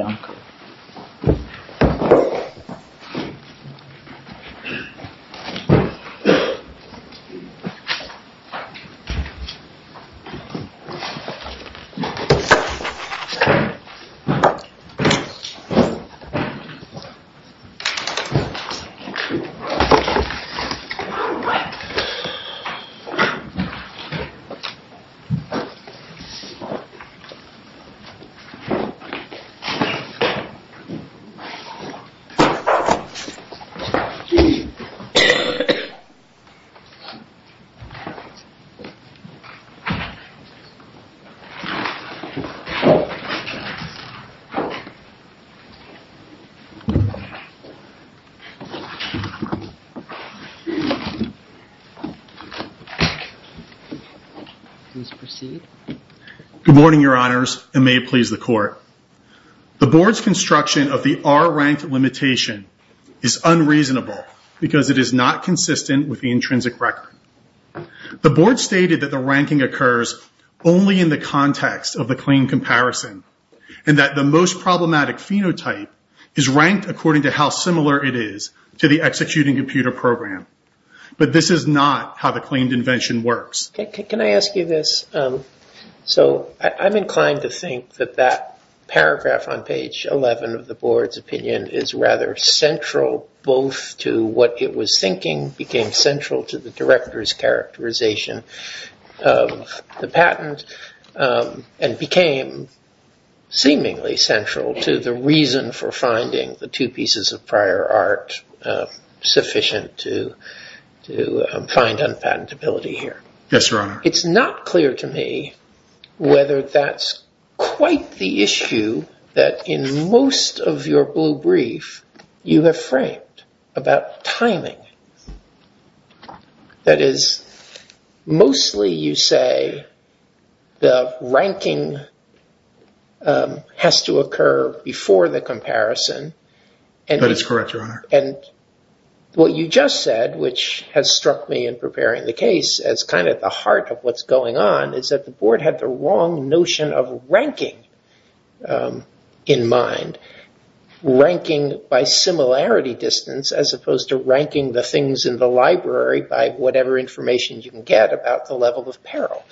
Iancu. Good morning, Your Honors, and may it please the Court. The Board's construction of the R-ranked limitation is unreasonable because it is not consistent with the intrinsic record. The Board stated that the ranking occurs only in the context of the claim comparison and that the most problematic phenotype is ranked according to how similar it is to the executing computer program, but this is not how the claimed invention works. Can I ask you this? So I'm inclined to think that that paragraph on page 11 of the Board's opinion is rather central both to what it was thinking became central to the Director's characterization of the patent and became seemingly central to the reason for finding the two pieces of prior art sufficient to find unpatentability here. Yes, Your Honor. It's not clear to me whether that's quite the issue that in most of your blue brief you have framed about timing. That is, mostly you say the ranking has to occur before the comparison. That is correct, Your Honor. And what you just said, which has struck me in preparing the case as kind of the heart of what's going on, is that the Board had the wrong notion of ranking in mind, ranking by similarity distance as opposed to ranking the things in the library by whatever information you can get about the level of peril.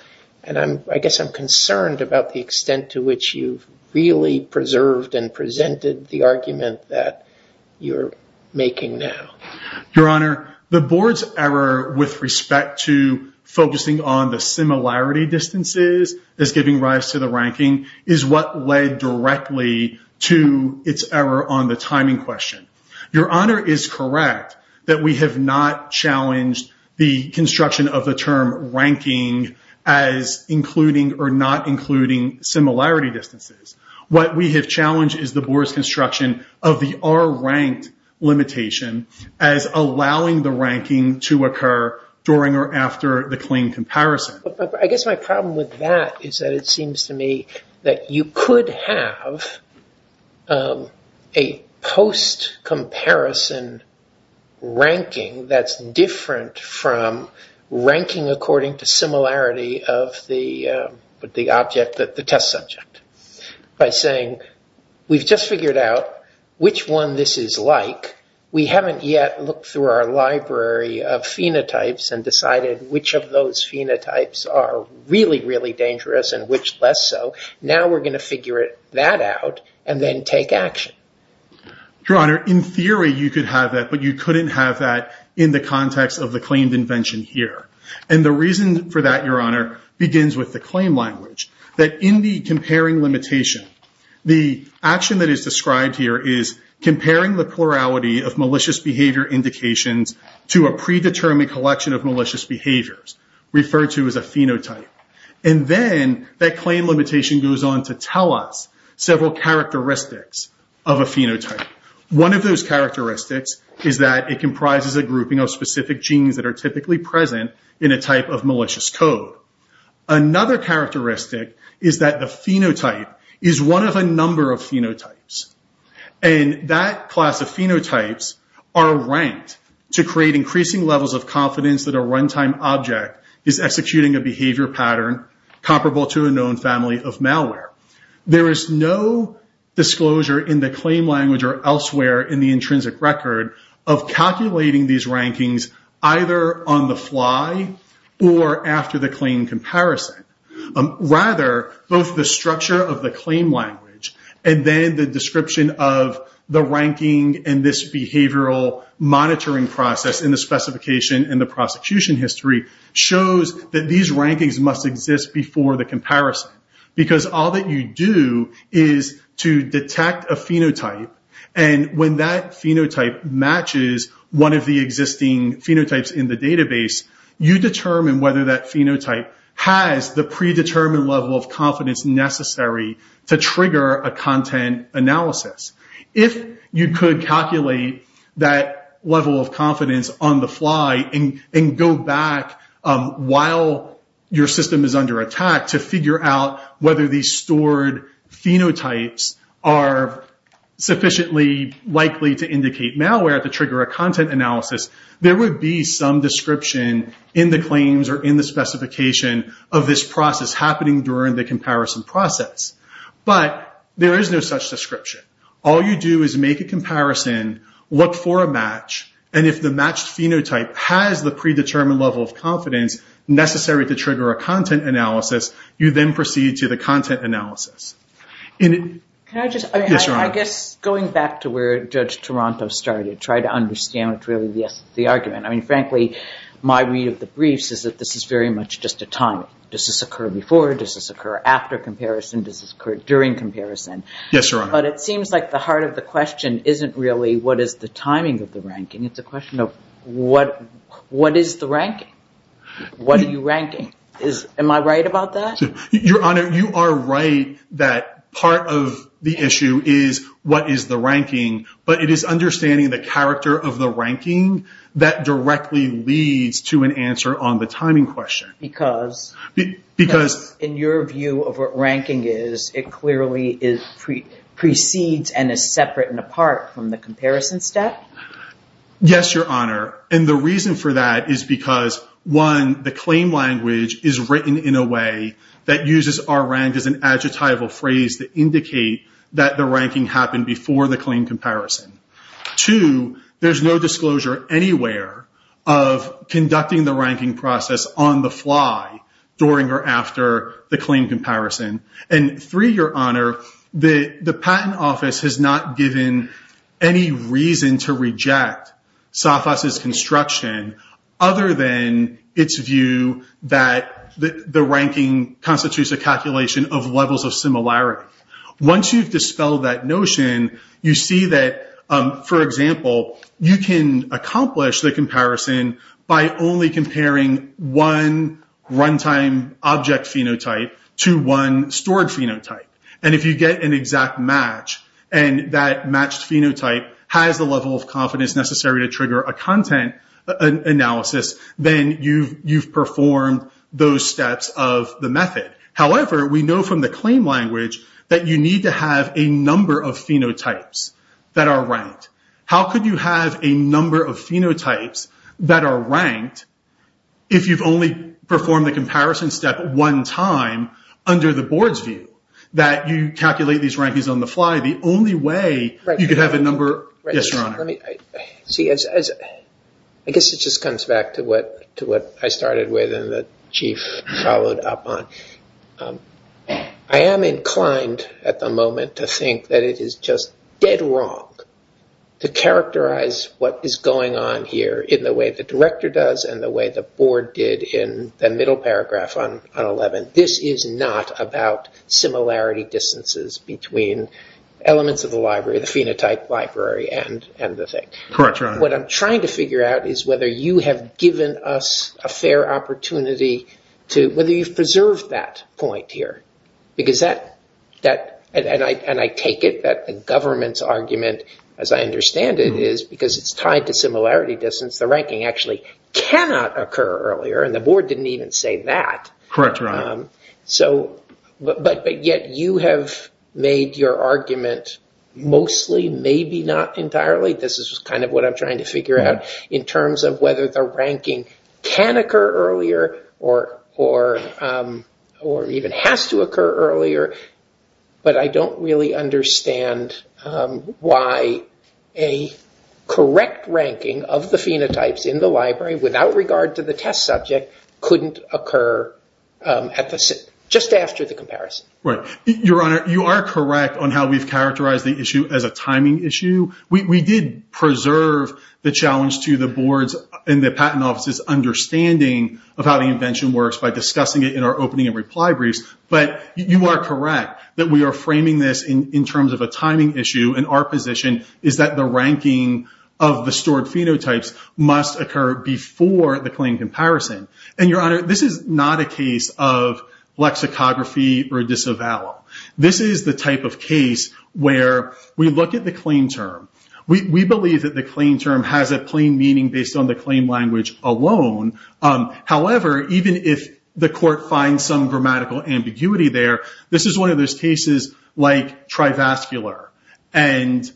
And I guess I'm concerned about the extent to which you've really preserved and presented the argument that you're making now. Your Honor, the Board's error with respect to focusing on the similarity distances as giving rise to the ranking is what led directly to its error on the timing question. Your Honor is correct that we have not challenged the construction of the term ranking as including or not including similarity distances. What we have challenged is the Board's construction of the R-ranked limitation as allowing the ranking to occur during or after the clean comparison. I guess my problem with that is that it seems to me that you could have a post-comparison ranking that's different from ranking according to similarity of the test subject. By saying, we've just figured out which one this is like. We haven't yet looked through our library of phenotypes and decided which of those phenotypes are really, really dangerous and which less so. Now we're going to figure that out and then take action. Your Honor, in theory you could have that, but you couldn't have that in the context of the claimed invention here. And the reason for that, Your Honor, begins with the claim language. That in the comparing limitation, the action that is described here is comparing the plurality of malicious behavior indications to a predetermined collection of malicious behaviors, referred to as a phenotype. And then that claim limitation goes on to tell us several characteristics of a phenotype. One of those characteristics is that it comprises a grouping of specific genes that are typically present in a type of malicious code. Another characteristic is that the phenotype is one of a number of phenotypes. And that class of phenotypes are ranked to create increasing levels of confidence that a runtime object is executing a behavior pattern comparable to a known family of malware. There is no disclosure in the claim language or elsewhere in the intrinsic record of calculating these rankings either on the fly or after the claim comparison. Rather, both the structure of the claim language and then the description of the ranking and this behavioral monitoring process in the specification and the prosecution history shows that these rankings must exist before the comparison. Because all that you do is to detect a phenotype and when that phenotype matches one of the existing phenotypes in the database, you determine whether that phenotype has the predetermined level of confidence necessary to trigger a content analysis. If you could calculate that level of confidence on the fly and go back while your system is under attack to figure out whether these stored phenotypes are sufficiently likely to indicate malware to trigger a content analysis, there would be some description in the claims or in the specification of this process happening during the comparison process. But there is no such description. All you do is make a comparison, look for a match, and if the matched phenotype has the predetermined level of confidence necessary to trigger a content analysis, you then proceed to the content analysis. Can I just, I guess going back to where Judge Toronto started, try to understand what really the argument, I mean, frankly, my read of the briefs is that this is very much just a timing. Does this occur before? Does this occur after comparison? Does this occur during comparison? Yes, Your Honor. But it seems like the heart of the question isn't really what is the timing of the ranking, it's a question of what is the ranking? What are you ranking? Am I right about that? Your Honor, you are right that part of the issue is what is the ranking, but it is understanding the character of the ranking that directly leads to an answer on the timing question. Because in your view of what ranking is, it clearly precedes and is separate and apart from the comparison step? Yes, Your Honor. The reason for that is because one, the claim language is written in a way that uses our rank as an adjectival phrase that indicate that the ranking happened before the claim comparison. Two, there's no disclosure anywhere of conducting the ranking process on the fly during or after the claim comparison. Three, Your Honor, the patent office has not given any reason to reject Safas' construction other than its view that the ranking constitutes a calculation of levels of similarity. Once you've dispelled that notion, you see that, for example, you can accomplish the stored phenotype, and if you get an exact match and that matched phenotype has the level of confidence necessary to trigger a content analysis, then you've performed those steps of the method. However, we know from the claim language that you need to have a number of phenotypes that are ranked. How could you have a number of phenotypes that are ranked if you've only performed the board's view that you calculate these rankings on the fly? The only way you could have a number... Yes, Your Honor. I guess it just comes back to what I started with and the chief followed up on. I am inclined at the moment to think that it is just dead wrong to characterize what is going on here in the way the director does and the way the board did in the middle paragraph on 11. This is not about similarity distances between elements of the library, the phenotype library, and the thing. What I'm trying to figure out is whether you have given us a fair opportunity to... Whether you've preserved that point here. And I take it that the government's argument, as I understand it, is because it's tied to similarity distance, the ranking actually cannot occur earlier, and the board didn't even say that. Correct, Your Honor. So, but yet you have made your argument mostly, maybe not entirely, this is kind of what I'm trying to figure out, in terms of whether the ranking can occur earlier or even has to occur earlier. But I don't really understand why a correct ranking of the phenotypes in the library without regard to the test subject couldn't occur just after the comparison. Right. Your Honor, you are correct on how we've characterized the issue as a timing issue. We did preserve the challenge to the board's and the patent office's understanding of how the invention works by discussing it in our opening and reply briefs. But you are correct that we are framing this in terms of a timing issue, and our position is that the ranking of the stored phenotypes must occur before the claim comparison. And Your Honor, this is not a case of lexicography or disavowal. This is the type of case where we look at the claim term, we believe that the claim term has a plain meaning based on the claim language alone. However, even if the court finds some grammatical ambiguity there, this is one of those cases like trivascular and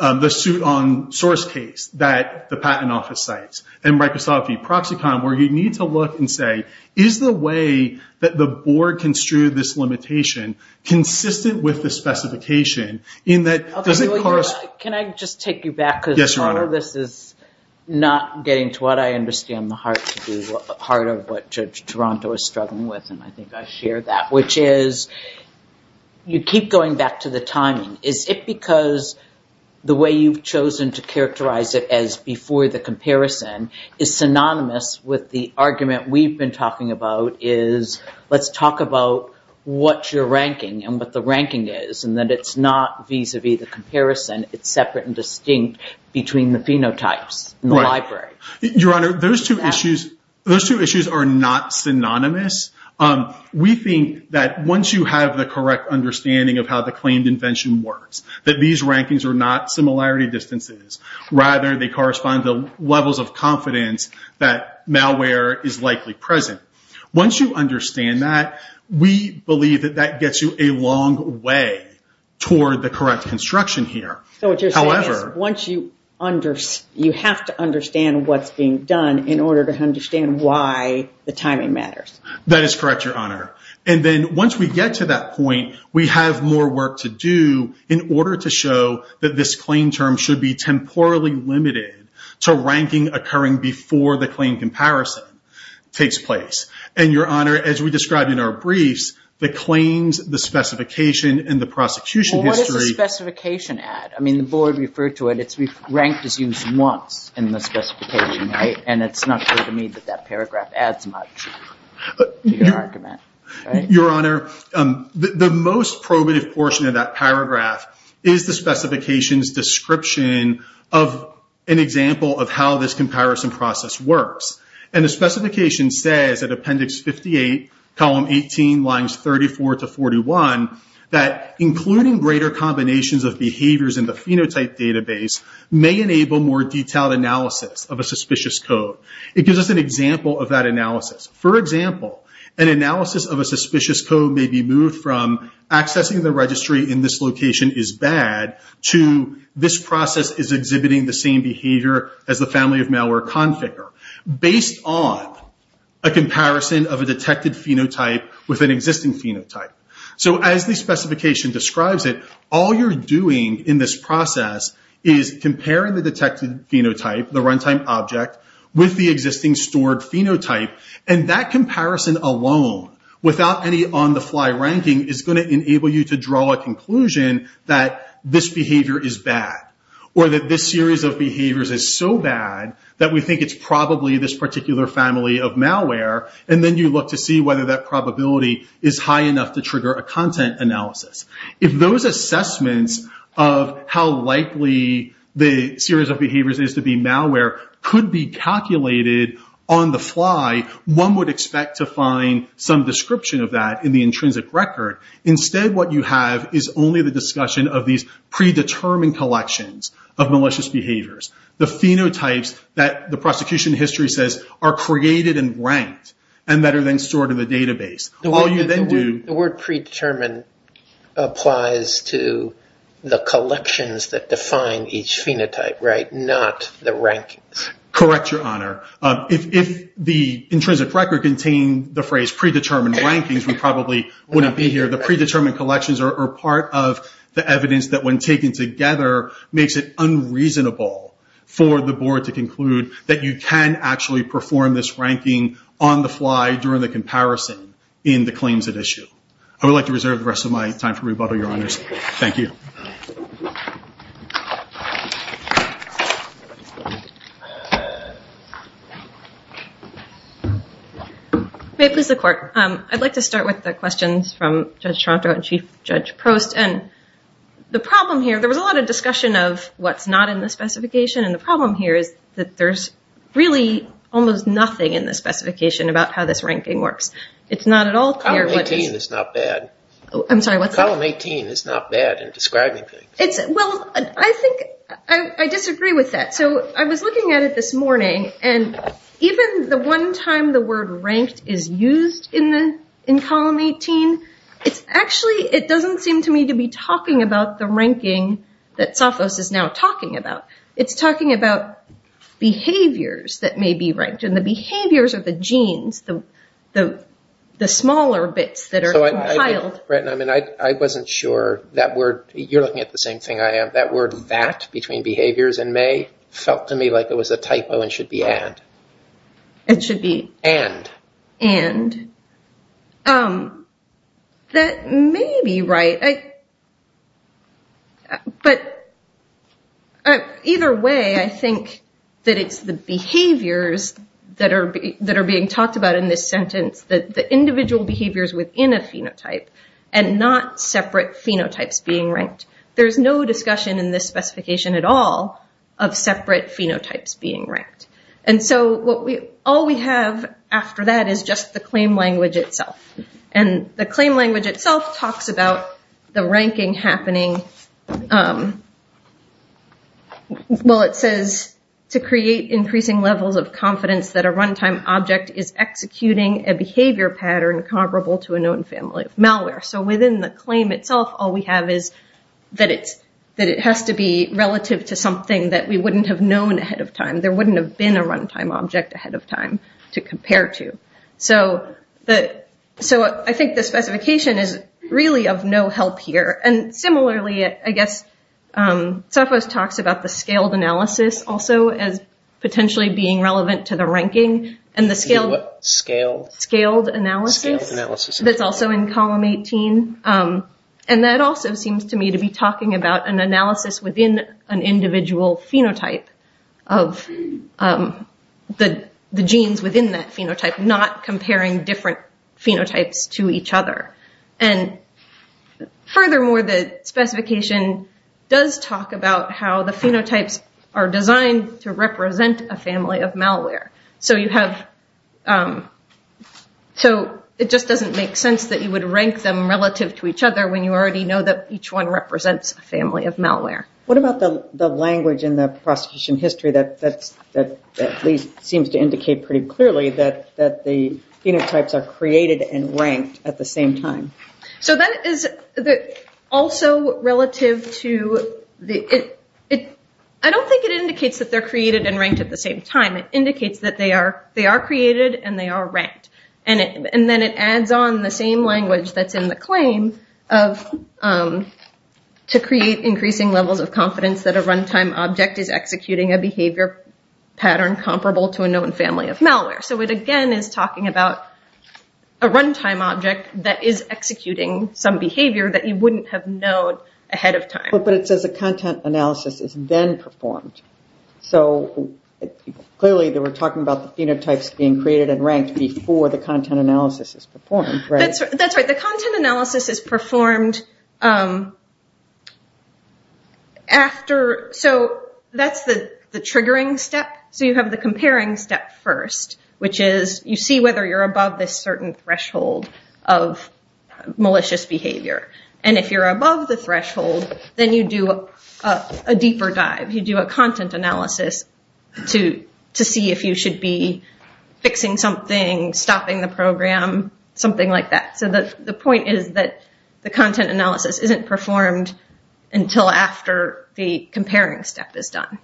the suit on source case that the patent office cites. And Microsoft v. Proxicon, where you need to look and say, is the way that the board construed this limitation consistent with the specification in that it doesn't correspond— Can I just take you back? Yes, Your Honor. Because a lot of this is not getting to what I understand the heart to do, part of what Judge Toronto is struggling with, and I think I share that, which is you keep going back to the timing. Is it because the way you've chosen to characterize it as before the comparison is synonymous with the argument we've been talking about is, let's talk about what your ranking and what the ranking is, and that it's not vis-a-vis the comparison, it's separate and distinct between the phenotypes in the library? Your Honor, those two issues are not synonymous. We think that once you have the correct understanding of how the claimed invention works, that these rankings are not similarity distances, rather they correspond to levels of confidence that malware is likely present. Once you understand that, we believe that that gets you a long way toward the correct construction here. So what you're saying is, you have to understand what's being done in order to understand why the timing matters. That is correct, Your Honor. And then, once we get to that point, we have more work to do in order to show that this claim term should be temporally limited to ranking occurring before the claim comparison takes place. And Your Honor, as we described in our briefs, the claims, the specification, and the prosecution history... Well, what does the specification add? I mean, the board referred to it. It's ranked as used once in the specification, right? And it's not clear to me that that paragraph adds much. Your argument, right? Your Honor, the most probative portion of that paragraph is the specification's description of an example of how this comparison process works. And the specification says, at Appendix 58, Column 18, Lines 34 to 41, that including greater combinations of behaviors in the phenotype database may enable more detailed analysis of a suspicious code. It gives us an example of that analysis. For example, an analysis of a suspicious code may be moved from accessing the registry in this location is bad to this process is exhibiting the same behavior as the family of malware conficker, based on a comparison of a detected phenotype with an existing phenotype. So, as the specification describes it, all you're doing in this process is comparing the detected phenotype, the runtime object, with the existing stored phenotype, and that comparison alone, without any on-the-fly ranking, is going to enable you to draw a conclusion that this behavior is bad, or that this series of behaviors is so bad that we think it's probably this particular family of malware, and then you look to see whether that probability is high enough to trigger a content analysis. If those assessments of how likely the series of behaviors is to be malware could be calculated on the fly, one would expect to find some description of that in the intrinsic record. Instead, what you have is only the discussion of these predetermined collections of malicious behaviors. The phenotypes that the prosecution history says are created and ranked, and that are then stored in the database. The word predetermined applies to the collections that define each phenotype, right? Not the rankings. Correct, Your Honor. If the intrinsic record contained the phrase predetermined rankings, we probably wouldn't be here. The predetermined collections are part of the evidence that, when taken together, makes it unreasonable for the board to conclude that you can actually perform this ranking on the fly during the comparison in the claims at issue. I would like to reserve the rest of my time for rebuttal, Your Honors. Thank you. May it please the court. I'd like to start with the questions from Judge Tronto and Chief Judge Prost. The problem here, there was a lot of discussion of what's not in the specification, and the about how this ranking works. It's not at all clear. Column 18 is not bad. I'm sorry, what's that? Column 18 is not bad in describing things. Well, I think I disagree with that. So I was looking at it this morning, and even the one time the word ranked is used in column 18, it's actually, it doesn't seem to me to be talking about the ranking that Safos is now talking about. It's talking about behaviors that may be ranked, and the behaviors are the genes, the smaller bits that are compiled. I wasn't sure that word, you're looking at the same thing I am, that word that between behaviors and may felt to me like it was a typo and should be and. It should be? And. And. That may be right. But either way, I think that it's the behaviors that are being talked about in this sentence, the individual behaviors within a phenotype, and not separate phenotypes being ranked. There's no discussion in this specification at all of separate phenotypes being ranked. And so all we have after that is just the claim language itself. And the claim language itself talks about the ranking happening. Well, it says to create increasing levels of confidence that a runtime object is executing a behavior pattern comparable to a known family of malware. So within the claim itself, all we have is that it has to be relative to something that we wouldn't have known ahead of time. There wouldn't have been a runtime object ahead of time to compare to. So the so I think the specification is really of no help here. And similarly, I guess, Sophos talks about the scaled analysis also as potentially being relevant to the ranking and the scale, scaled, scaled analysis analysis that's also in column 18. And that also seems to me to be talking about an analysis within an individual phenotype of the genes within that phenotype, not comparing different phenotypes to each other. And furthermore, the specification does talk about how the phenotypes are designed to represent a family of malware. So you have so it just doesn't make sense that you would rank them relative to each other when you already know that each one represents a family of malware. What about the language in the prosecution history that at least seems to indicate pretty clearly that the phenotypes are created and ranked at the same time? So that is also relative to the I don't think it indicates that they're created and ranked at the same time. It indicates that they are created and they are ranked. And then it adds on the same language that's in the claim of to create increasing levels of confidence that a runtime object is executing a behavior pattern comparable to a known family of malware. So it again is talking about a runtime object that is executing some behavior that you wouldn't have known ahead of time. But it says the content analysis is then performed. So clearly they were talking about the phenotypes being created and ranked before the content analysis is performed, right? That's right. The content analysis is performed after so that's the triggering step. So you have the comparing step first, which is you see whether you're above this certain threshold of malicious behavior. And if you're above the threshold, then you do a deeper dive. You do a content analysis to see if you should be fixing something, stopping the program, something like that. So the point is that the content analysis isn't performed until after the comparing step is done.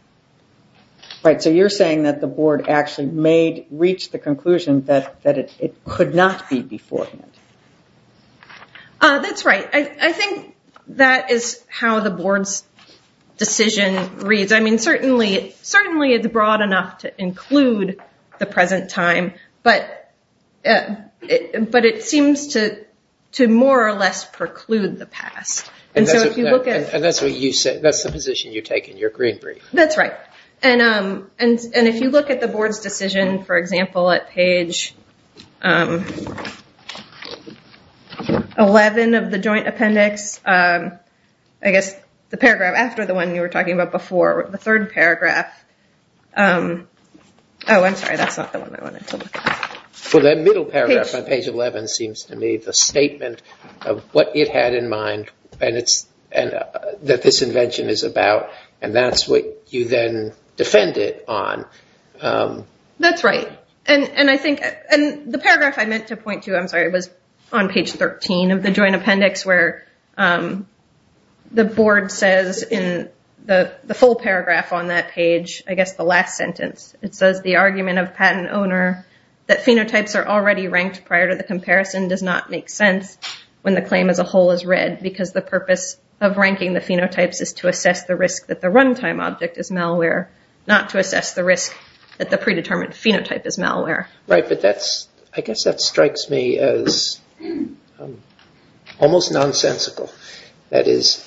Right. So you're saying that the board actually reached the conclusion that it could not be beforehand. That's right. I think that is how the board's decision reads. I mean, certainly it's broad enough to include the present time. But it seems to more or less preclude the past. And that's the position you take in your green brief. That's right. And if you look at the board's decision, for example, at page 11 of the joint appendix, I guess the paragraph after the one you were talking about before, the third paragraph. Oh, I'm sorry. That's not the one I wanted to look at. For that middle paragraph on page 11 seems to me the statement of what it had in mind that this invention is about. And that's what you then defend it on. That's right. And the paragraph I meant to point to, I'm sorry, was on page 13 of the joint appendix where the board says in the full paragraph on that page, I guess the last sentence, it says that phenotypes are already ranked prior to the comparison does not make sense when the claim as a whole is read because the purpose of ranking the phenotypes is to assess the risk that the runtime object is malware, not to assess the risk that the predetermined phenotype is malware. Right. But I guess that strikes me as almost nonsensical. That is,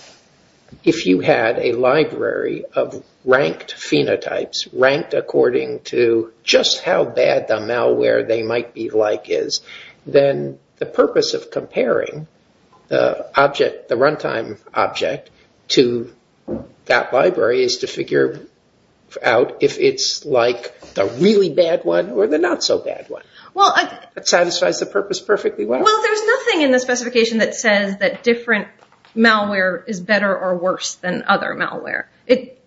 if you had a library of ranked phenotypes ranked according to just how bad the malware they might be like is, then the purpose of comparing the object, the runtime object to that library is to figure out if it's like the really bad one or the not so bad one. Well, it satisfies the purpose perfectly well. There's nothing in the specification that says that different malware is better or worse than other malware.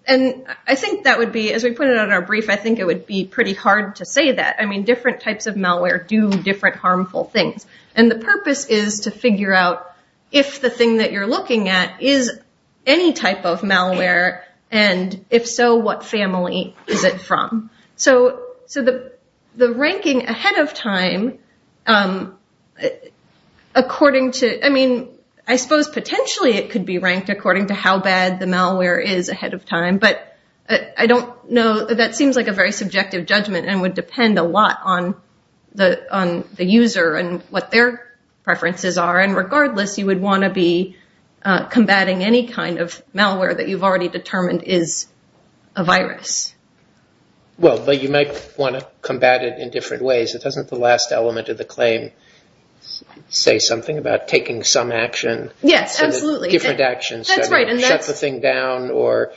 And I think that would be, as we put it on our brief, I think it would be pretty hard to say that. I mean, different types of malware do different harmful things. And the purpose is to figure out if the thing that you're looking at is any type of malware and if so, what family is it from? So the ranking ahead of time, I mean, I suppose potentially it could be ranked according to how bad the malware is ahead of time. But I don't know. That seems like a very subjective judgment and would depend a lot on the user and what their preferences are. And regardless, you would want to be combating any kind of malware that you've already determined is a virus. But you might want to combat it in different ways. It doesn't the last element of the claim say something about taking some action? Yes, absolutely. Different actions, shut the thing down or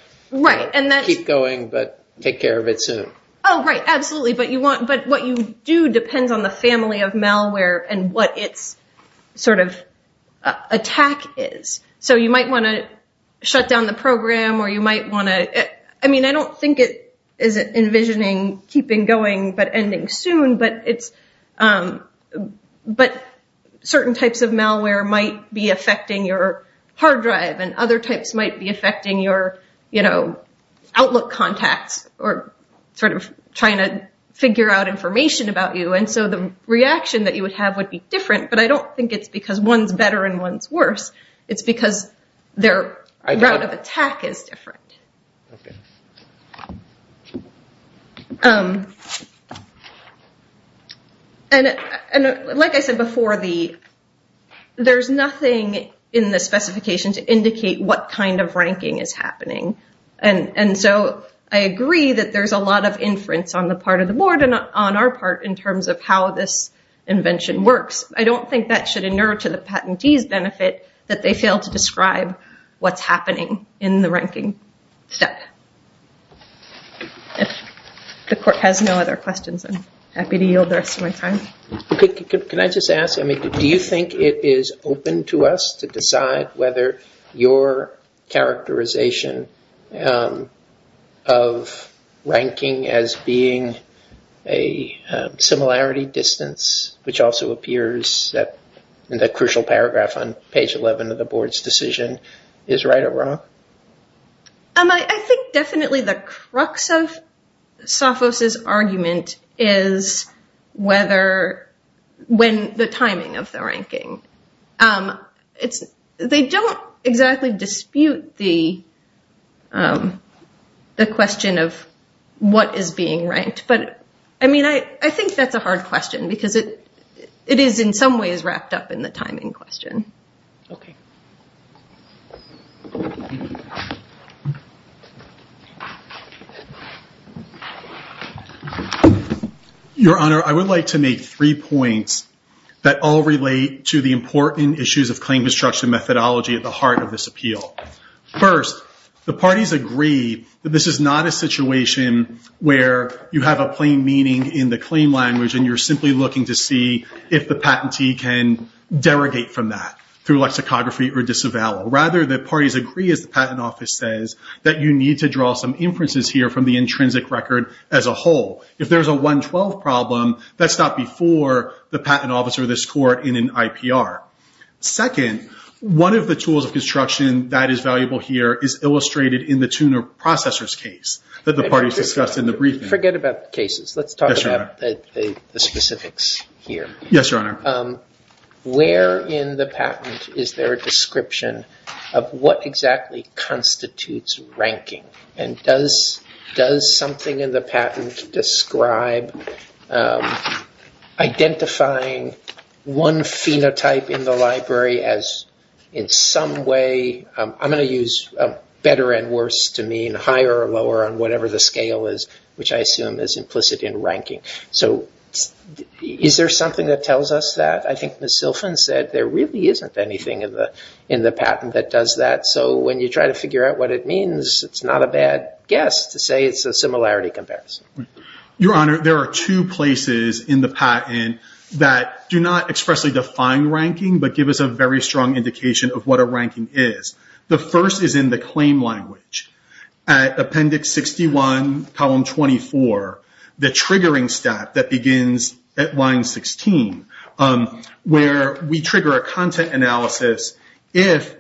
keep going, but take care of it soon. Oh, right. Absolutely. But what you do depends on the family of malware and what its sort of attack is. So you might want to shut down the program or you might want to, I mean, I don't think it's envisioning keeping going but ending soon. But certain types of malware might be affecting your hard drive and other types might be affecting your outlook contacts or sort of trying to figure out information about you. And so the reaction that you would have would be different. But I don't think it's because one's better and one's worse. It's because their route of attack is different. And like I said before, there's nothing in the specification to indicate what kind of ranking is happening. And so I agree that there's a lot of inference on the part of the board and on our part in terms of how this invention works. I don't think that should inure to the patentee's benefit that they fail to describe what's happening in the ranking step. If the court has no other questions, I'm happy to yield the rest of my time. Can I just ask, do you think it is open to us to decide whether your characterization of ranking as being a similarity distance, which also appears in the crucial paragraph on page 11 of the board's decision, is right or wrong? I think definitely the crux of Sophos' argument is when the timing of the ranking. They don't exactly dispute the question of what is being ranked. But I mean, I think that's a hard question because it is in some ways wrapped up in the timing question. OK. Your Honor, I would like to make three points that all relate to the important issues of claim destruction methodology at the heart of this appeal. First, the parties agree that this is not a situation where you have a plain meaning in the claim language and you're simply looking to see if the patentee can derogate from that. Through lexicography or disavowal. Rather, the parties agree, as the patent office says, that you need to draw some inferences here from the intrinsic record as a whole. If there's a 112 problem, that's not before the patent office or this court in an IPR. Second, one of the tools of construction that is valuable here is illustrated in the tuner processors case that the parties discussed in the briefing. Forget about the cases. Let's talk about the specifics here. Yes, Your Honor. Where in the patent is there a description of what exactly constitutes ranking? And does something in the patent describe identifying one phenotype in the library as in some way, I'm going to use better and worse to mean higher or lower on whatever the scale is, which I assume is implicit in ranking. So is there something that tells us that? I think Ms. Silfen said there really isn't anything in the patent that does that. So when you try to figure out what it means, it's not a bad guess to say it's a similarity comparison. Your Honor, there are two places in the patent that do not expressly define ranking, but give us a very strong indication of what a ranking is. The first is in the claim language. At appendix 61, column 24, the triggering step that begins at line 16, where we trigger a content analysis if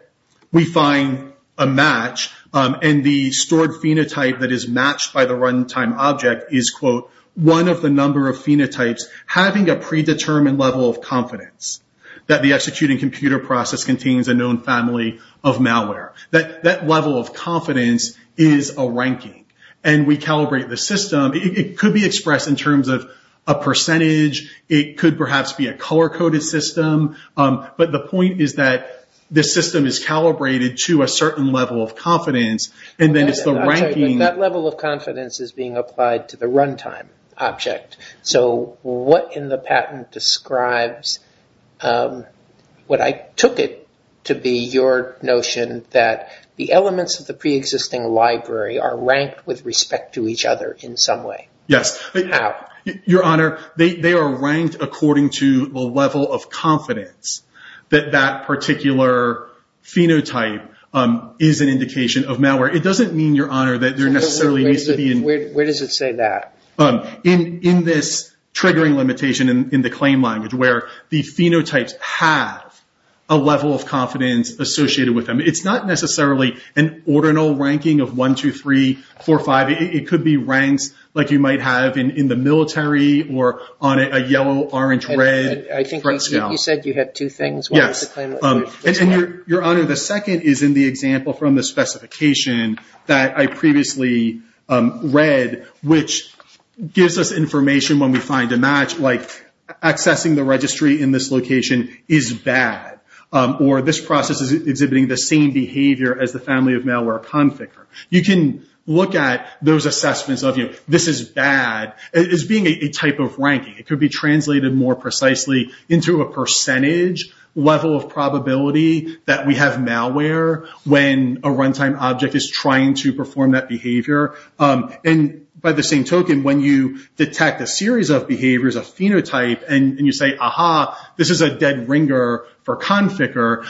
we find a match and the stored phenotype that is matched by the runtime object is, quote, one of the number of phenotypes having a predetermined level of confidence that the executing computer process contains a known family of malware. That level of confidence is a ranking. And we calibrate the system. It could be expressed in terms of a percentage. It could perhaps be a color-coded system. But the point is that the system is calibrated to a certain level of confidence, and then it's the ranking. That level of confidence is being applied to the runtime object. So what in the patent describes what I took it to be your notion that the elements of the preexisting library are ranked with respect to each other in some way? Yes. Your Honor, they are ranked according to the level of confidence that that particular phenotype is an indication of malware. It doesn't mean, Your Honor, that there necessarily needs to be... Where does it say that? In this triggering limitation in the claim language, where the phenotypes have a level of confidence associated with them. It's not necessarily an ordinal ranking of 1, 2, 3, 4, 5. It could be ranks like you might have in the military or on a yellow, orange, red front scale. You said you had two things. Yes. Your Honor, the second is in the example from the specification that I previously read, which gives us information when we find a match, like accessing the registry in this location is bad, or this process is exhibiting the same behavior as the family of malware config. You can look at those assessments of, this is bad, as being a type of ranking. It could be translated more precisely into a percentage level of probability that we have malware when a runtime object is trying to perform that behavior. And by the same token, when you detect a series of behaviors, a phenotype, and you say, aha, this is a dead ringer for conficker,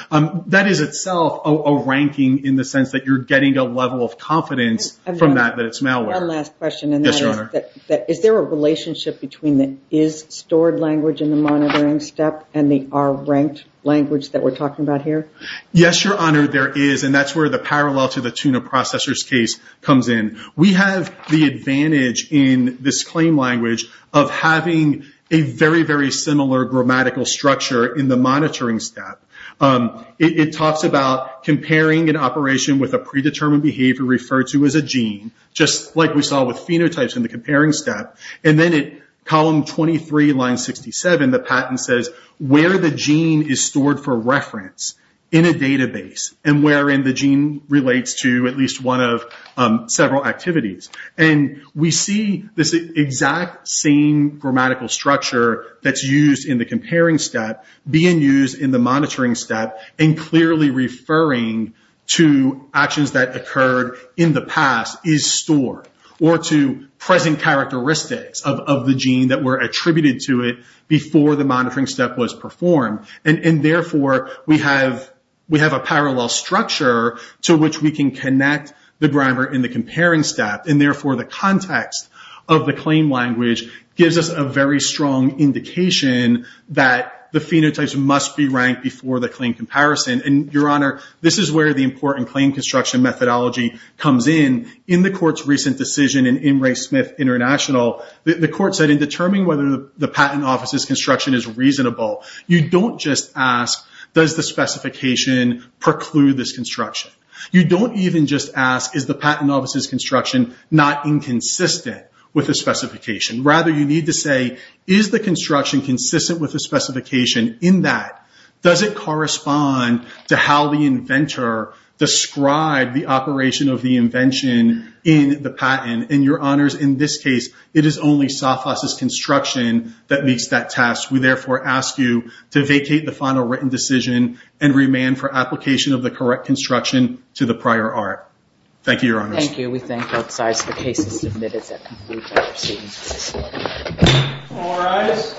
that is itself a ranking in the sense that you're getting a level of confidence from that, that it's malware. One last question. Yes, Your Honor. Is there a relationship between the is stored language in the monitoring step and the are ranked language that we're talking about here? Yes, Your Honor, there is. That's where the parallel to the tuna processor's case comes in. We have the advantage in this claim language of having a very, very similar grammatical structure in the monitoring step. It talks about comparing an operation with a predetermined behavior referred to as a gene, just like we saw with phenotypes in the comparing step. And then at column 23, line 67, the patent says, where the gene is stored for reference in a database and wherein the gene relates to at least one of several activities. And we see this exact same grammatical structure that's used in the comparing step being used in the monitoring step and clearly referring to actions that occurred in the past is stored or to present characteristics of the gene that were attributed to it before the monitoring step was performed. And therefore, we have a parallel structure to which we can connect the grammar in the comparing step. And therefore, the context of the claim language gives us a very strong indication that the phenotypes must be ranked before the claim comparison. And Your Honor, this is where the important claim construction methodology comes in. In the court's recent decision in M. Ray Smith International, the court said in determining whether the patent office's construction is reasonable, you don't just ask, does the specification preclude this construction? You don't even just ask, is the patent office's construction not inconsistent with the specification? Rather, you need to say, is the construction consistent with the specification in that? Does it correspond to how the inventor described the operation of the invention in the patent? And Your Honors, in this case, it is only SAFAS's construction that meets that task. We therefore ask you to vacate the final written decision and remand for application of the correct construction to the prior art. Thank you, Your Honors. Thank you. We thank both sides for the cases submitted that conclude our proceedings this morning. All rise.